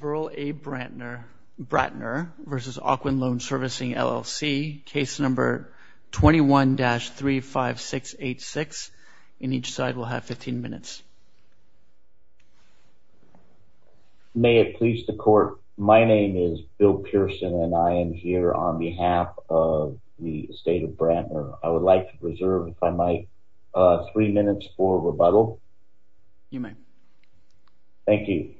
Verl A. Brantner v. Ocwen Loan Servicing LLC, case number 21-35686. And each side will have 15 minutes. May it please the court, my name is Bill Pearson and I am here on behalf of the estate of Brantner. I would like to reserve, if I might, three minutes for rebuttal. You may. Thank you.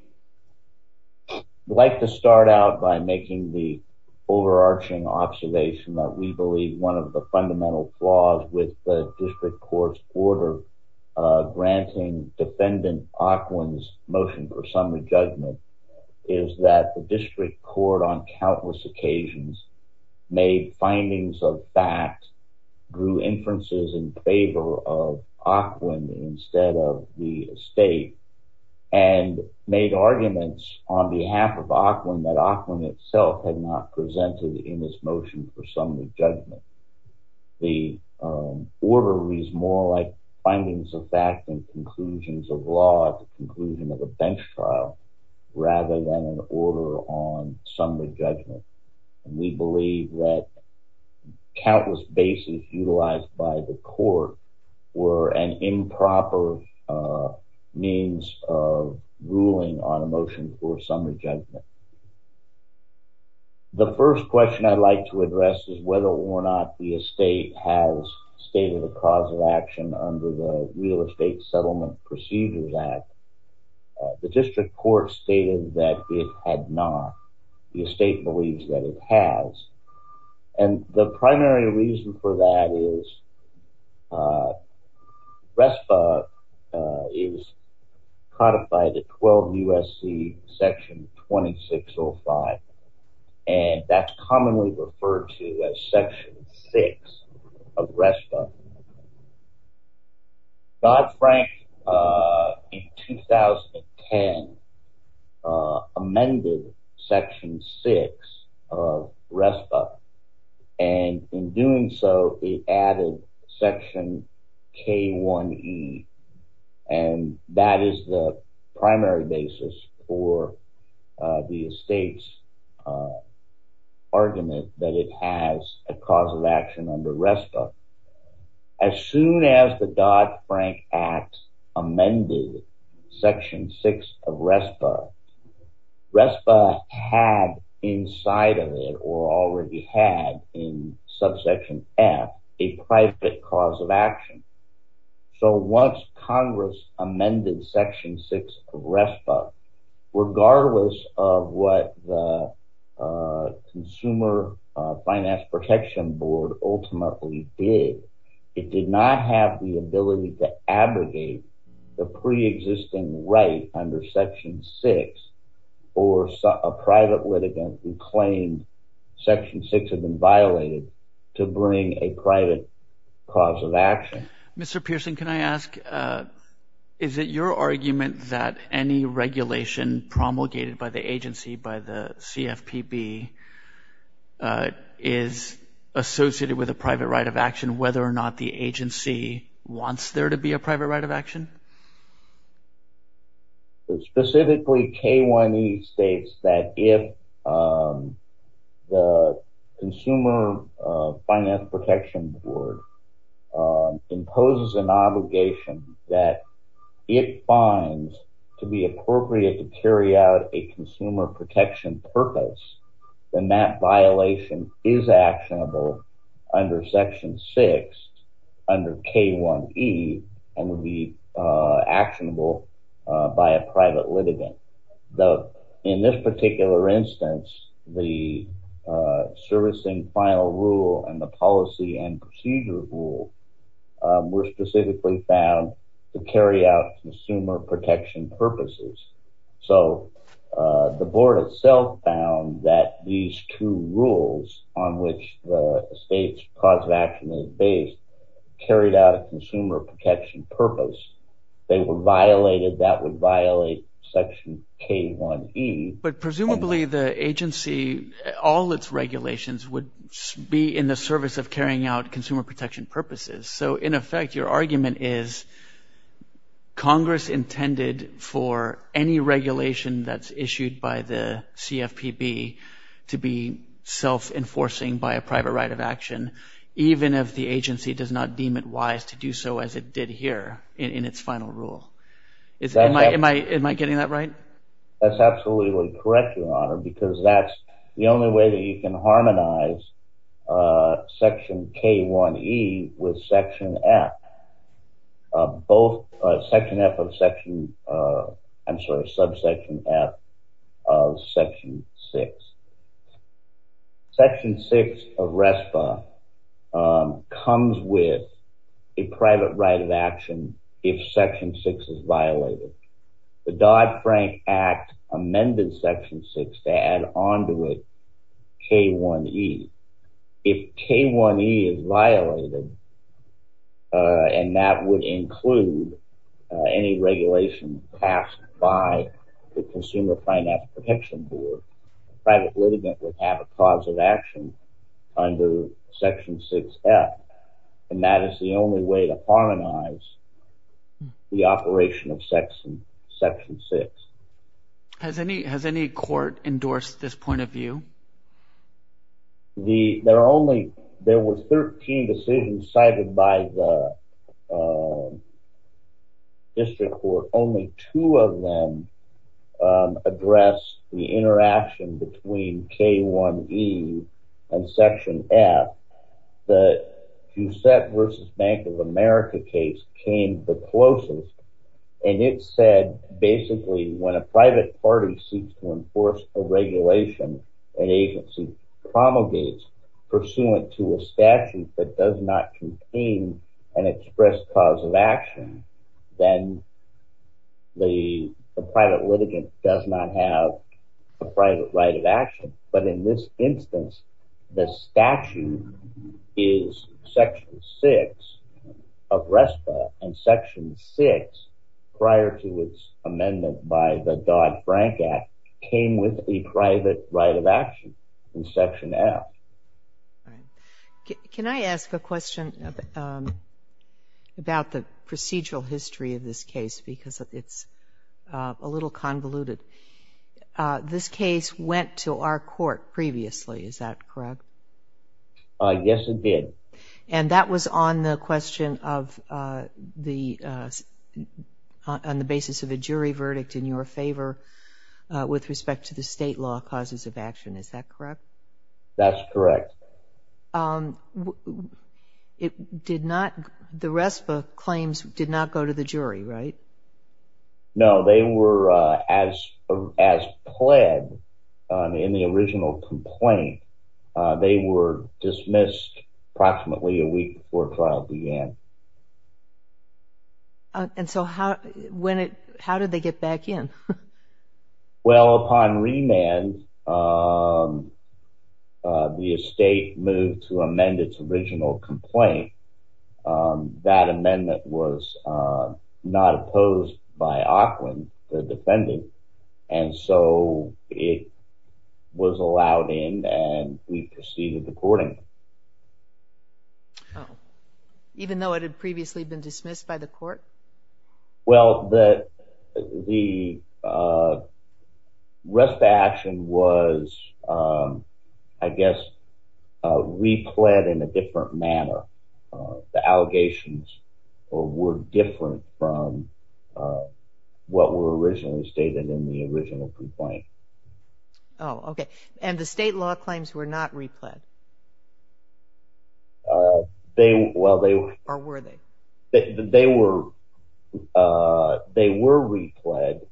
I'd like to start out by making the overarching observation that we believe one of the fundamental flaws with the district court's order granting defendant Ocwen's motion for summary judgment is that the district court on countless occasions made findings of fact, drew inferences in favor of Ocwen instead of the estate, and made arguments on behalf of Ocwen that Ocwen itself had not presented in this motion for summary judgment. The order reads more like findings of fact and conclusions of law at the conclusion of a bench trial rather than an order on summary judgment. And we believe that countless bases utilized by the court were an improper means of ruling on a motion for summary judgment. The first question I'd like to address is whether or not the estate has stated a cause of action under the Real Estate Settlement Procedures Act. The district court stated that it had not. The estate believes that it has, and the primary reason for that is RESPA is codified at 12 U.S.C. Section 2605, and that's commonly referred to as Section 6 of RESPA. Dodd-Frank, in 2010, amended Section 6 of RESPA, and in doing so, it added Section K-1E, and that is the primary basis for the estate's argument that it has a cause of action under RESPA. As soon as the Dodd-Frank Act amended Section 6 of RESPA, RESPA had inside of it, or already had in Subsection F, a private cause of action. So once Congress amended Section 6 of RESPA, regardless of what the Consumer Finance Protection Board ultimately did, it did not have the ability to abrogate the pre-existing right under Section 6 for a private litigant who claimed Section 6 had been violated to bring a private cause of action. Mr. Pearson, can I ask, is it your argument that any regulation promulgated by the agency, by the CFPB, is associated with a private right of action, whether or not the agency wants there to be a private right of action? Specifically, K-1E states that if the Consumer Finance Protection Board imposes an obligation that it finds to be appropriate to carry out a consumer protection purpose, then that violation is actionable under Section 6, under K-1E, and would be actionable by a private litigant. In this particular instance, the servicing final rule and the policy and procedure rule were specifically found to carry out consumer protection purposes. So the board itself found that these two rules on which the state's cause of action is based carried out a consumer protection purpose. They were violated. That would violate Section K-1E. But presumably the agency, all its regulations, would be in the service of carrying out consumer protection purposes. So in effect, your argument is Congress intended for any regulation that's issued by the CFPB to be self-enforcing by a private right of action, even if the agency does not deem it wise to do so as it did here in its final rule. Am I getting that right? That's absolutely correct, Your Honor, because that's the only way that you can harmonize Section K-1E with Section F, both Section F of Section, I'm sorry, Subsection F of Section 6. Section 6 of RESPA comes with a private right of action if Section 6 is violated. The Dodd-Frank Act amended Section 6 to add on to it K-1E. If K-1E is violated, and that would include any regulation passed by the Consumer Finance Protection Board, the private litigant would have a cause of action under Section 6F, and that is the only way to enforce Section 6. Has any court endorsed this point of view? There were 13 decisions cited by the district court. Only two of them address the interaction between K-1E and Section F. The Giuseppe v. Bank of America case came the closest, and it said basically when a private party seeks to enforce a regulation an agency promulgates pursuant to a statute that does not contain an express cause of action, then the private litigant does not have a private right of action. But in this instance, the statute is Section 6 of RESPA, and Section 6, prior to its amendment by the Dodd-Frank Act, came with a private right of action in Section F. Can I ask a question about the procedural history of this case because it's a little convoluted? This case went to our court previously, is that correct? Yes, it did. And that was on the question of the on the basis of a jury verdict in your favor with respect to the state law causes of action, is that correct? That's correct. The RESPA claims did not go to the jury, right? No, they were as pled in the original complaint. They were dismissed approximately a week before trial began. And so how did they get back in? Well, upon remand, the estate moved to amend its original complaint. That amendment was not opposed by Auckland, the defendant, and so it was allowed in and we proceeded to court. Even though it had previously been dismissed by the manner, the allegations were different from what were originally stated in the original complaint. Oh, okay. And the state law claims were not repled? Well, they were repled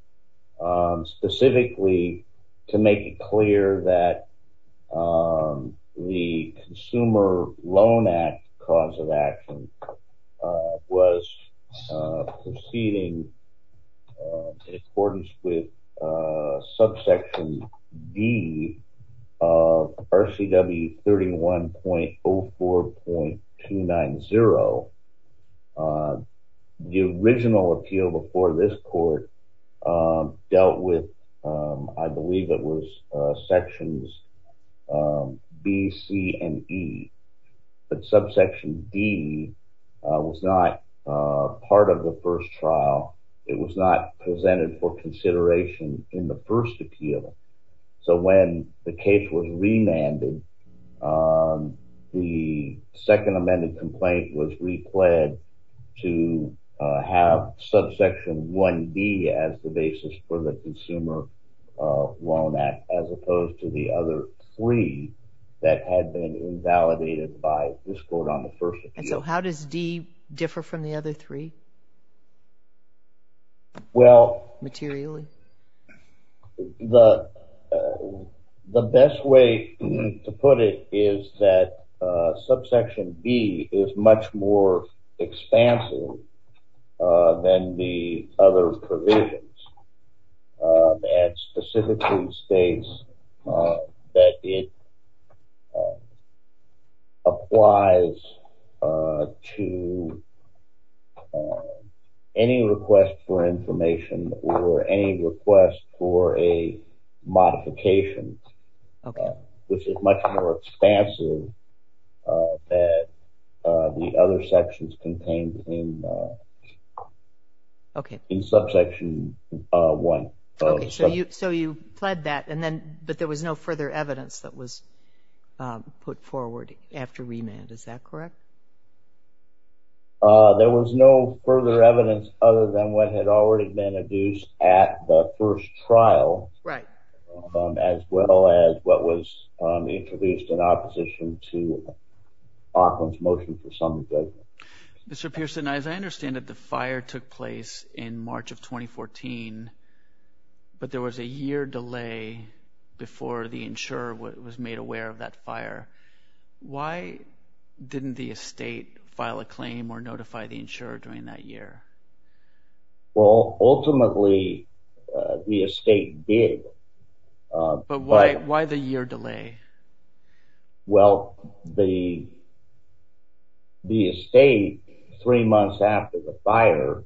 specifically to make it clear that the Consumer Loan Act cause of action was proceeding in accordance with subsection D of RCW 31.04.290. The original appeal before this court dealt with, I believe it was sections B, C, and E. But subsection D was not part of the first trial. It was not presented for trial. So when the case was remanded, the second amended complaint was repled to have subsection 1B as the basis for the Consumer Loan Act as opposed to the other three that had been invalidated by this court on the first appeal. And so how does D differ from the other three materially? Well, the best way to put it is that subsection B is much more expansive than the other provisions. It specifically states that it applies to any request for information or any request for a modification, which is much more expansive than the other sections contained in subsection 1. Okay, so you pled that, but there was no remand. Is that correct? There was no further evidence other than what had already been adduced at the first trial, as well as what was introduced in opposition to Auckland's motion for summary judgment. Mr. Pearson, as I understand it, the fire took place in March of 2014, but there was a year delay before the insurer was made aware of that fire. Why didn't the estate file a claim or notify the insurer during that year? Well, ultimately, the estate did. But why the year delay? Well, the estate, three months after the fire,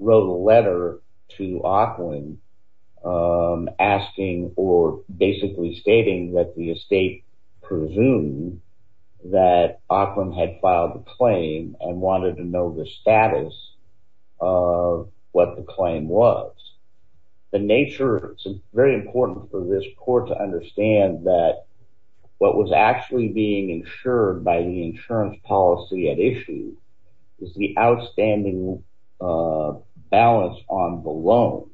wrote a letter to Auckland asking or basically stating that the estate presumed that Auckland had filed the claim and wanted to know the status of what the claim was. The nature, it's very important for this court to understand that what was actually being insured by the insurance policy at issue is the outstanding balance on the loan.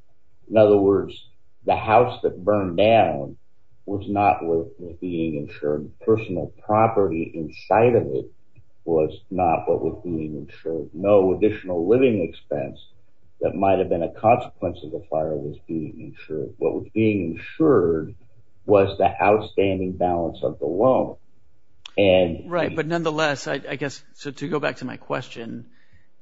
In other words, the house that burned down was not worth being insured. Personal property inside of it was not what was being insured. No additional living expense that might have been a consequence of the fire was being insured. What was being insured was the outstanding balance of the loan. Right, but nonetheless, I guess, so to go back to my question,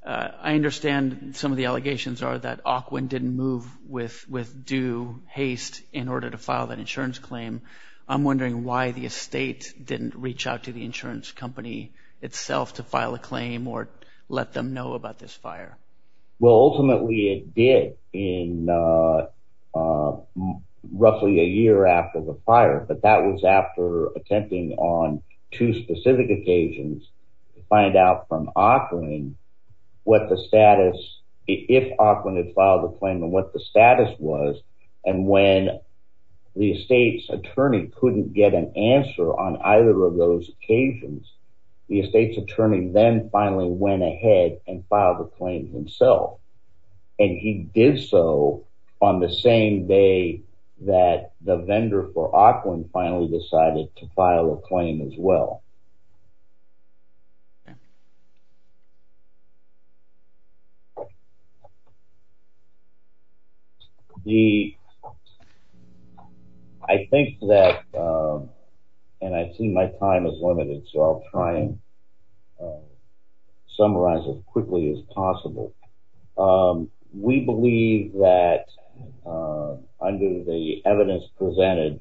I understand some of the allegations are that Auckland didn't move with due haste in order to file that insurance claim. I'm wondering why the estate didn't reach out to the insurance company itself to file a claim or let them know about this fire? Well, ultimately, it did in roughly a year after the fire, but that was after attempting on two specific occasions to find out from Auckland what the status, if Auckland had filed a claim and what the status was. And when the estate's attorney couldn't get an answer on either of those occasions, the estate's attorney then finally went ahead and filed the claim himself. And he did so on the same day that the vendor for Auckland finally decided to file a claim as well. I think that, and I see my time is limited, so I'll try and summarize as quickly as possible. We believe that under the evidence presented,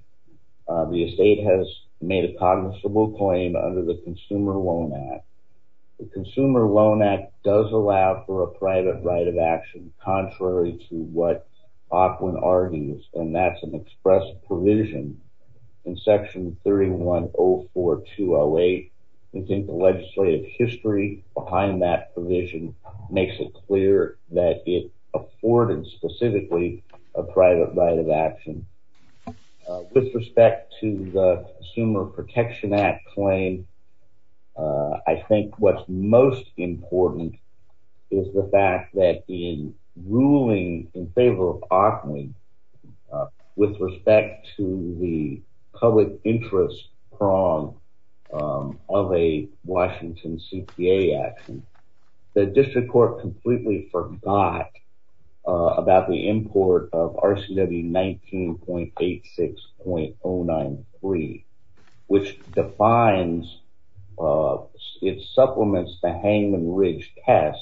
the estate has made a cognizable claim under the Consumer Loan Act. The Consumer Loan Act does allow for a private right of action, contrary to what Auckland argues, and that's an express provision in section 3104208. We think the legislative history behind that provision makes it clear that it afforded specifically a private right of action. With respect to the Consumer Protection Act claim, I think what's most important is the fact that in ruling in favor of Auckland with respect to the public interest prong of a Washington CPA action, the district court completely forgot about the import of RCW 19.86.093, which defines, it supplements the Hangman Ridge test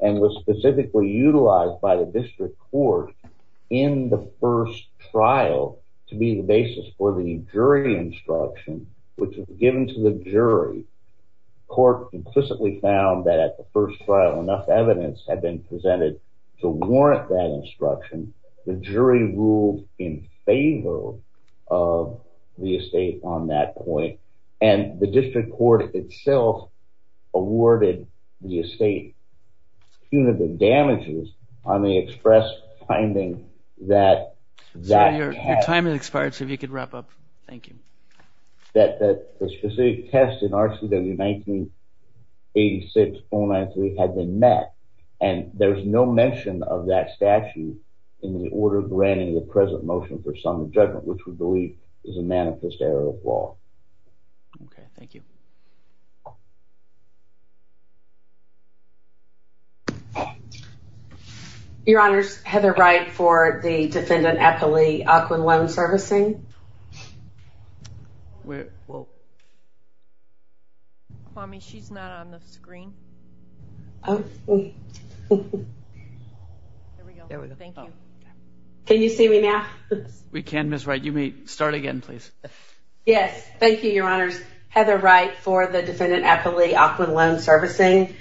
and was specifically utilized by the district court in the first trial to be the basis for the jury instruction, which was given to the jury. Court implicitly found that at the first trial enough evidence had been presented to warrant that instruction. The jury ruled in favor of the estate on that point, and the district court itself awarded the estate punitive damages on the express finding that- Sorry, your time has expired, so if you could wrap up. Thank you. That the specific test in RCW 19.86.093 had been met, and there's no mention of that statute in the order granting the present motion for sum of judgment, which we believe is a manifest error of law. Okay, thank you. Your honors, Heather Wright for the defendant Eppley, Auckland Loan Servicing. Mommy, she's not on the screen. There we go. Thank you. Can you see me now? We can, Ms. Wright. You may start again, please. Yes, thank you, your honors. Heather Wright for the defendant Eppley, Auckland Loan Servicing.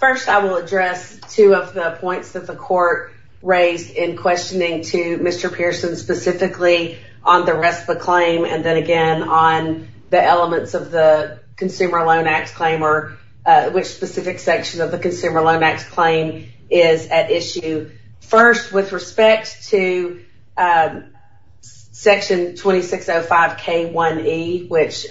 First, I will address two of the points that the court raised in questioning to Mr. Pearson specifically on the rest of the claim, and then again on the elements of the Consumer Loan Act claim, or which specific section of the Consumer Loan Act claim is at issue. First, with respect to section 2605 K1E, which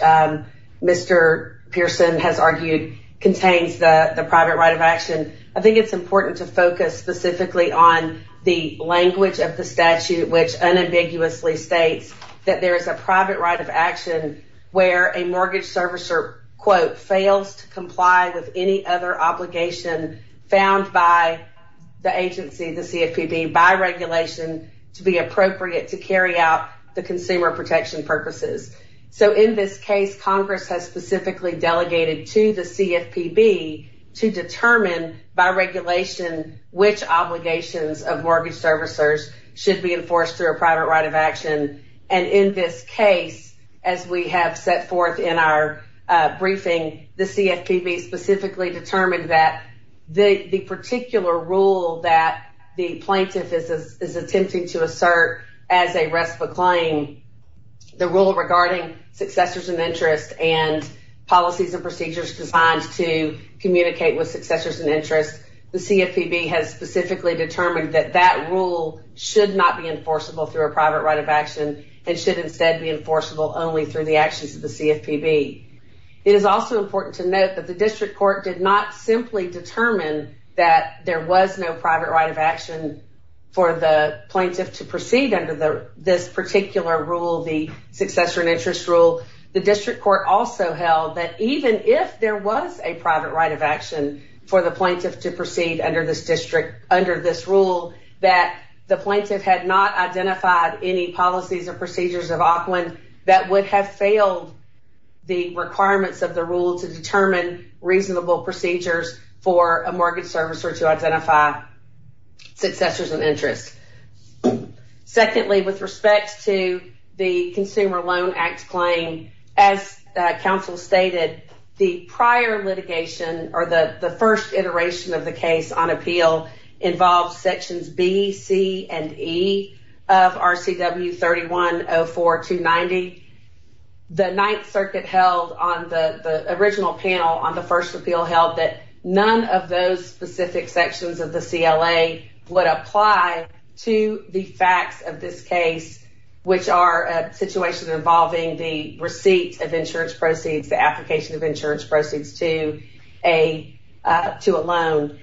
Mr. Pearson has argued contains the private right of action, I think it's important to focus specifically on the language of the statute, which unambiguously states that there is a private right of action where a mortgage servicer, quote, fails to comply with any other obligation found by the agency, the CFPB, by regulation to be appropriate to carry out the consumer protection purposes. So in this case, Congress has specifically delegated to the CFPB to determine by regulation which obligations of mortgage servicers should be enforced through a private right of action. And in this case, as we have set forth in our briefing, the CFPB specifically determined that the particular rule that the plaintiff is attempting to assert as a rest of a claim, the rule regarding successors and interest and policies and procedures designed to communicate with successors and interest, the CFPB has specifically determined that that rule should not be enforceable through a private right of action and should instead be enforceable only through the actions of the CFPB. It is also important to note that the district court did not simply determine that there was no private right of action for the plaintiff to proceed under the this particular rule, the successor and interest rule. The district court also held that even if there was a private right of action for the plaintiff to proceed under this district, under this rule, that the plaintiff had not identified any policies or procedures of Auckland that would have failed the requirements of the rule to determine reasonable procedures for a mortgage servicer to identify successors and interest. Secondly, with respect to the Consumer Loan Act claim, as council stated, the prior litigation or the the first iteration of the case on appeal involves sections B, C, and E of RCW 3104-290. The Ninth Circuit held on the original panel on the first appeal held that none of those specific sections of the CLA would apply to the facts of this case, which are a situation involving the receipt of insurance proceeds, the application of insurance proceeds to a loan.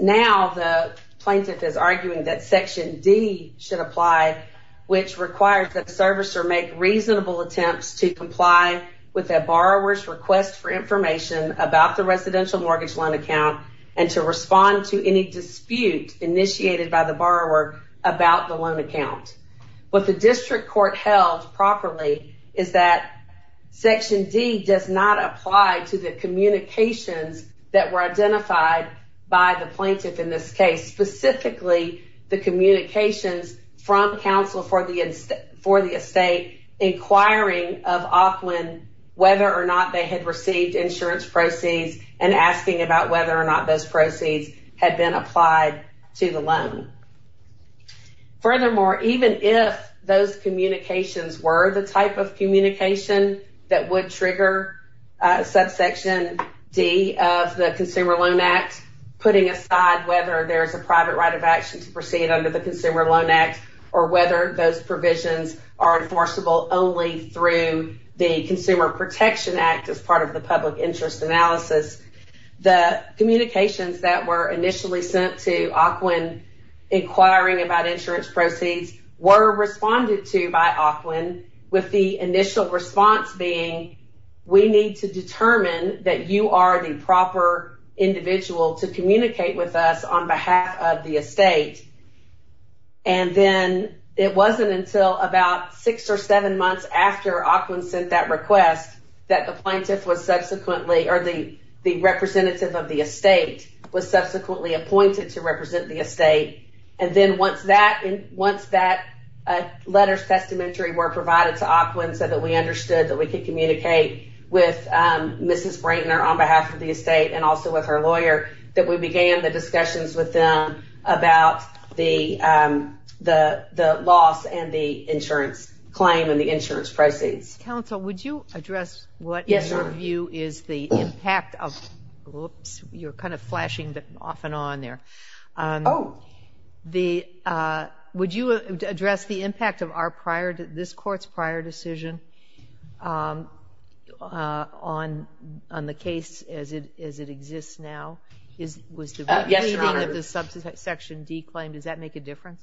Now the plaintiff is arguing that section D should apply, which requires that the servicer make reasonable attempts to comply with a borrower's request for information about the residential mortgage loan account and to respond to any dispute initiated by the borrower about the loan account. What the district court held properly is that section D does not apply to the communications that were identified by the plaintiff in this case, specifically the communications from Council for the Estate inquiring of Auckland whether or not they had received insurance proceeds and asking about whether or not those proceeds had been applied to the loan. Furthermore, even if those communications were the type of communication that would trigger subsection D of the Consumer Loan Act, putting aside whether there is a private right of action to proceed under the Consumer Loan Act or whether those provisions are enforceable only through the Consumer Protection Act as part of the public interest analysis, the communications that were initially sent to Auckland inquiring about insurance proceeds were responded to by Auckland with the initial response being, we need to determine that you are the proper individual to communicate with us on behalf of the estate. And then it wasn't until about six or seven months after Auckland sent that request that the plaintiff was subsequently or the representative of the estate was subsequently appointed to represent the estate. And then once that letter's testamentary were provided to Auckland so that we understood that we could communicate with Mrs. Brayton on behalf of the estate and also with her lawyer, that we began the discussions with them about the loss and the insurance claim and the insurance proceeds. Counsel, would you address what is your view is the impact of, oops, you're kind of flashing off and on there. Oh. Would you address the impact of our prior, this court's prior decision on the case as it exists now? Yes, Your Honor. Was the receding of the subsection D claim, does that make a difference?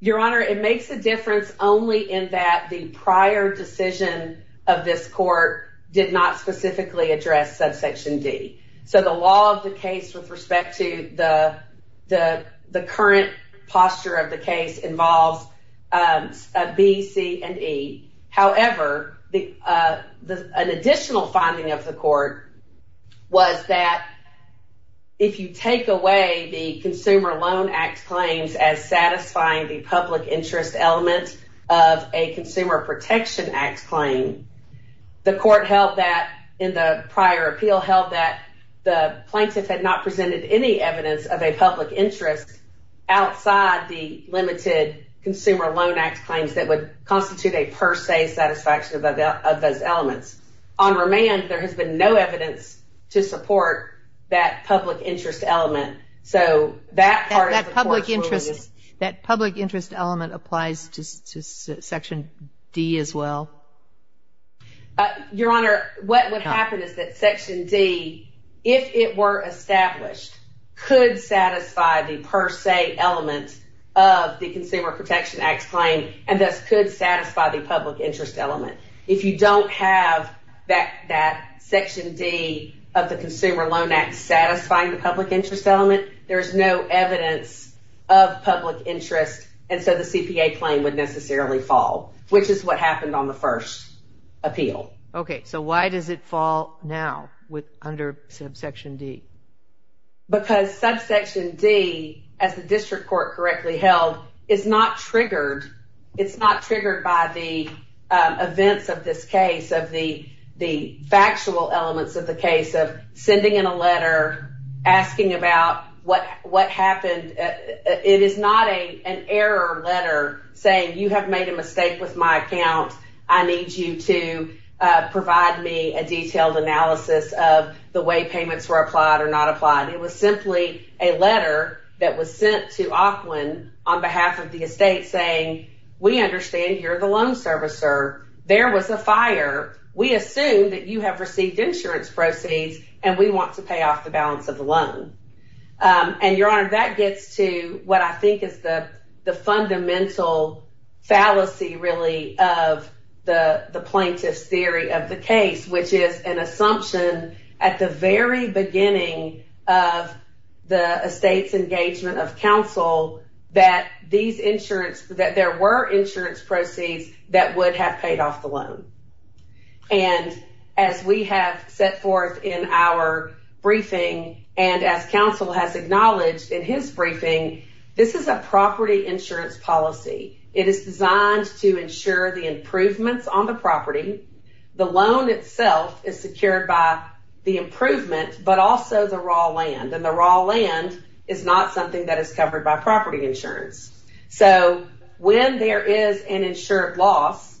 Your Honor, it makes a difference only in that the prior decision of this court did not specifically address subsection D. So the law of the case with respect to the current posture of the case involves B, C, and E. However, an additional finding of the court was that if you take away the Consumer Loan Act claims as satisfying the public interest element of a Consumer Protection Act claim, the court held that in the prior appeal held that the plaintiff had not presented any evidence of a public interest outside the limited Consumer Loan Act claims that would constitute a per se satisfaction of those elements. On remand, there has been no evidence to support that public interest element. That public interest element applies to section D as well? Your Honor, what would happen is that section D, if it were established, could satisfy the per se element of the Consumer Protection Act claim and thus could satisfy the public interest element. If you have that section D of the Consumer Loan Act satisfying the public interest element, there is no evidence of public interest and so the CPA claim would necessarily fall, which is what happened on the first appeal. Okay, so why does it fall now under subsection D? Because subsection D, as the of the factual elements of the case of sending in a letter asking about what happened, it is not an error letter saying you have made a mistake with my account. I need you to provide me a detailed analysis of the way payments were applied or not applied. It was simply a letter that was sent to We assume that you have received insurance proceeds and we want to pay off the balance of the loan. And Your Honor, that gets to what I think is the fundamental fallacy really of the plaintiff's theory of the case, which is an assumption at the very beginning of the estate's engagement of counsel that there were insurance proceeds that would have paid off the loan. And as we have set forth in our briefing and as counsel has acknowledged in his briefing, this is a property insurance policy. It is designed to ensure the improvements on the property. The loan itself is secured by the improvement, but also the raw land and the raw land is not something that is covered by property insurance. So when there is an insured loss,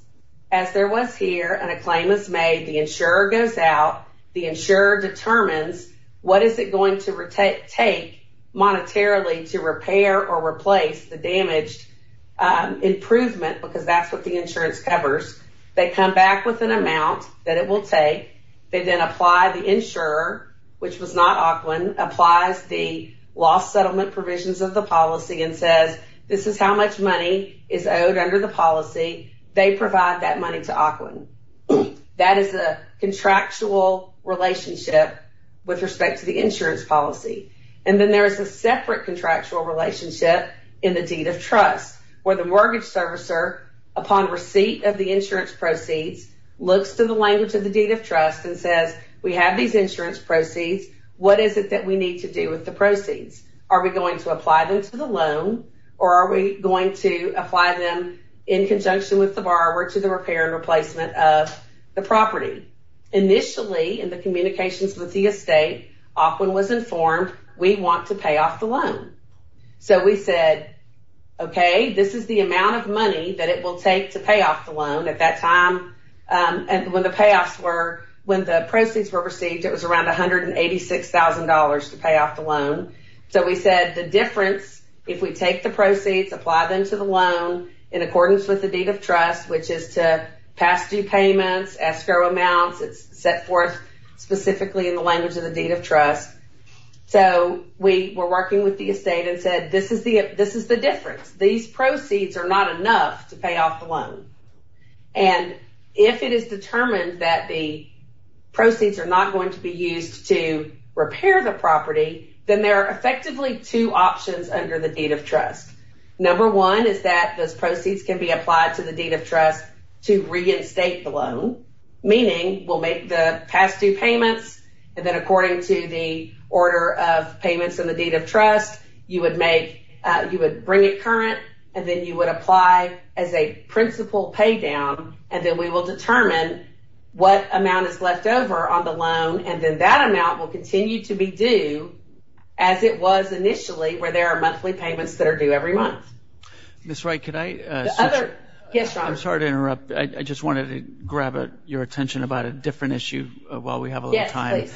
as there was here, and a claim is made, the insurer goes out, the insurer determines what is it going to take monetarily to repair or replace the damaged improvement because that's what the insurance covers. They come back with an amount that it will take. They then apply the insurer, which was not Auckland, applies the loss settlement provisions of the policy and says, this is how much money is owed under the policy. They provide that money to Auckland. That is a contractual relationship with respect to the insurance policy. And then there is a separate contractual relationship in the deed of trust where the mortgage servicer, upon receipt of the insurance proceeds, looks to the language of the deed of trust and says, we have these insurance proceeds. What is it that we need to do with the proceeds? Are we going to apply them to the loan or are we going to apply them in conjunction with the borrower to the repair and replacement of the property? Initially, in the communications with the estate, Auckland was informed, we want to pay off the loan. So we said, okay, this is the amount of money that it will take to pay off the loan. At that time, when the proceeds were received, it was around $186,000 to pay off the loan. So we said the difference, if we take the proceeds, apply them to the loan in accordance with the deed of trust, which is to pass due payments, escrow amounts, it's set forth specifically in the language of the deed of trust. So we were working with the estate and said, this is the difference. These proceeds are not enough to pay off the loan. And if it is determined that the proceeds are not going to be used to repair the property, then there are effectively two options under the deed of trust. Number one is that those proceeds can be applied to the deed of trust to reinstate the loan, meaning we'll make the past due payments. And then according to the order of payments in the deed of trust, you would make, you would bring it current, and then you would apply as a principal pay down, and then we will determine what amount is left over on the loan. And then that amount will continue to be due as it was initially, where there are monthly payments that are due every month. Miss Wright, could I switch? I'm sorry to interrupt. I just wanted to grab your attention about a different issue while we have a little time.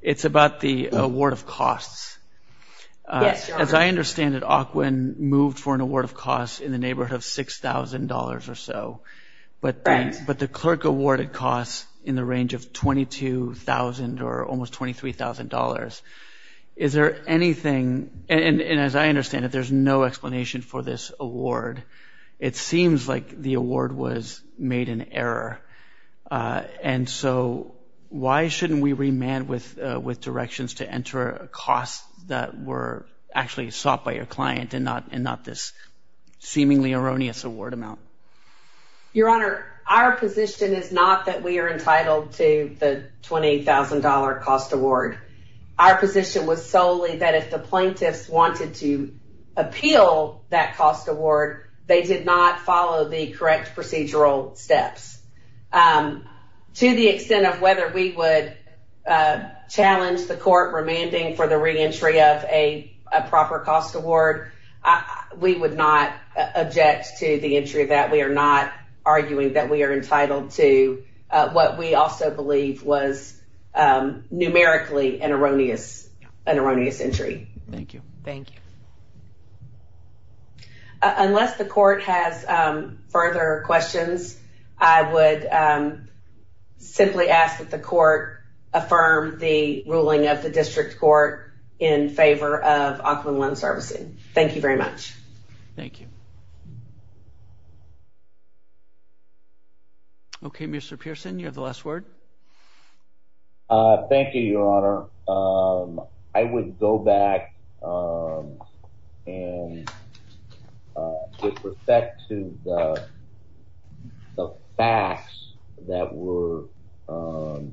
It's about the award of costs. Yes, your honor. As I understand it, Ocwen moved for an award of costs in the neighborhood of $6,000 or so. Right. But the clerk awarded costs in the range of $22,000 or almost $23,000. Is there anything, and as I understand it, there's no explanation for this award. It seems like the award was that were actually sought by your client and not this seemingly erroneous award amount. Your honor, our position is not that we are entitled to the $28,000 cost award. Our position was solely that if the plaintiffs wanted to appeal that cost award, they did not follow the correct procedural steps. To the extent of whether we would challenge the court remanding for the reentry of a proper cost award, we would not object to the entry of that. We are not arguing that we are entitled to what we also believe was numerically an erroneous entry. Thank you. Thank you. Unless the court has further questions, I would simply ask that the court affirm the ruling of the district court in favor of Aquinlon servicing. Thank you very much. Thank you. Okay, Mr. Pearson, you have the last word. Thank you, your honor. I would go back and with respect to the facts that were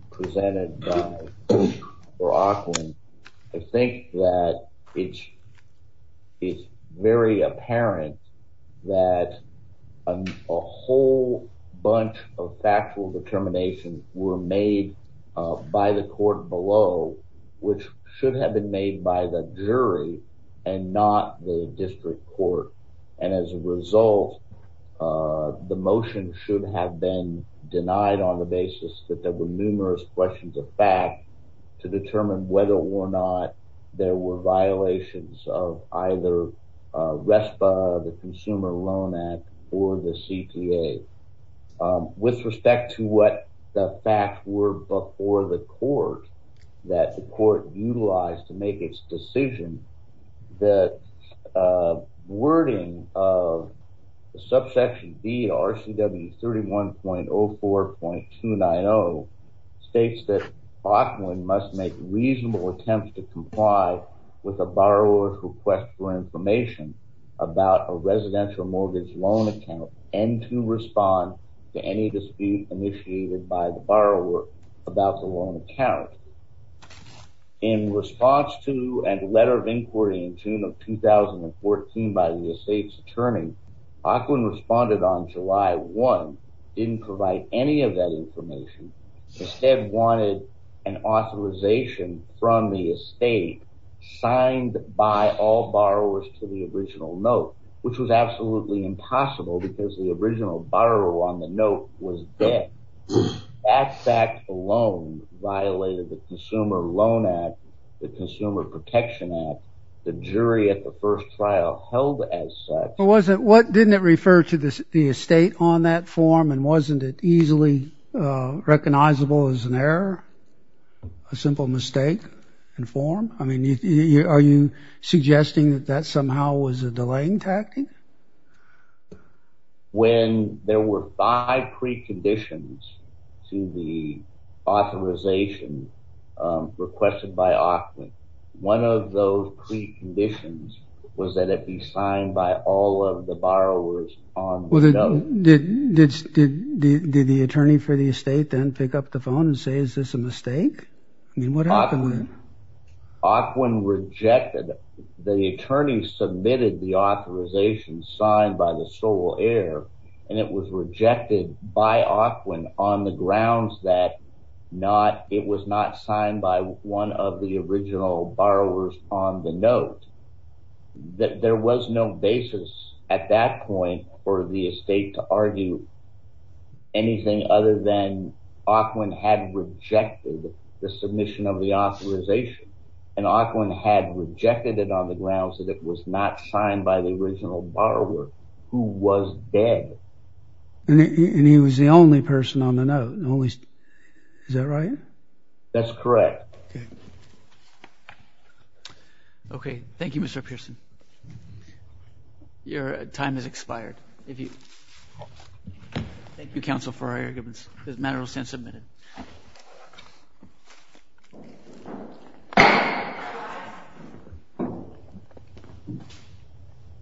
presented by Aquinlon, I think that it's very apparent that a whole bunch of factual determinations were made by the court below, which should have been made by the jury and not the district court. And as a result, the motion should have been denied on the basis that there were numerous questions of fact to determine whether or not there were violations of either RESPA, the Consumer Loan Act, or the CTA. With respect to what the facts were before the court, that the court utilized to make its decision, the wording of subsection B, RCW 31.04.290, states that Aquinlon must make reasonable attempts to comply with a borrower's request for information about a residential mortgage loan account and to respond to any dispute initiated by the borrower about the loan account. In response to a letter of inquiry in June of 2014 by the estate's attorney, Aquinlon responded on July 1, didn't provide any of that information, instead wanted an authorization from the estate signed by all borrowers to the original note, which was absolutely impossible because the original borrower on the note was dead. That fact alone violated the Consumer Loan Act, the Consumer Protection Act, the jury at the first trial held as such. What didn't it refer to the estate on that form and wasn't it easily recognizable as an error, a simple mistake in form? I mean, are you suggesting that that somehow was a delaying tactic? When there were five preconditions to the authorization requested by Aquinlon, one of those preconditions was that it be signed by all of the borrowers on the note. Did the attorney for the estate then pick up the phone and say, is this a mistake? I mean, Aquinlon rejected, the attorney submitted the authorization signed by the sole heir and it was rejected by Aquinlon on the grounds that it was not signed by one of the original borrowers on the note. There was no basis at that point for the estate to argue anything other than the submission of the authorization and Aquinlon had rejected it on the ground so that it was not signed by the original borrower who was dead. And he was the only person on the note. Is that right? That's correct. Okay. Thank you, Mr. Pearson. Your time has expired. Thank you, counsel, for our arguments. This matter will stand submitted.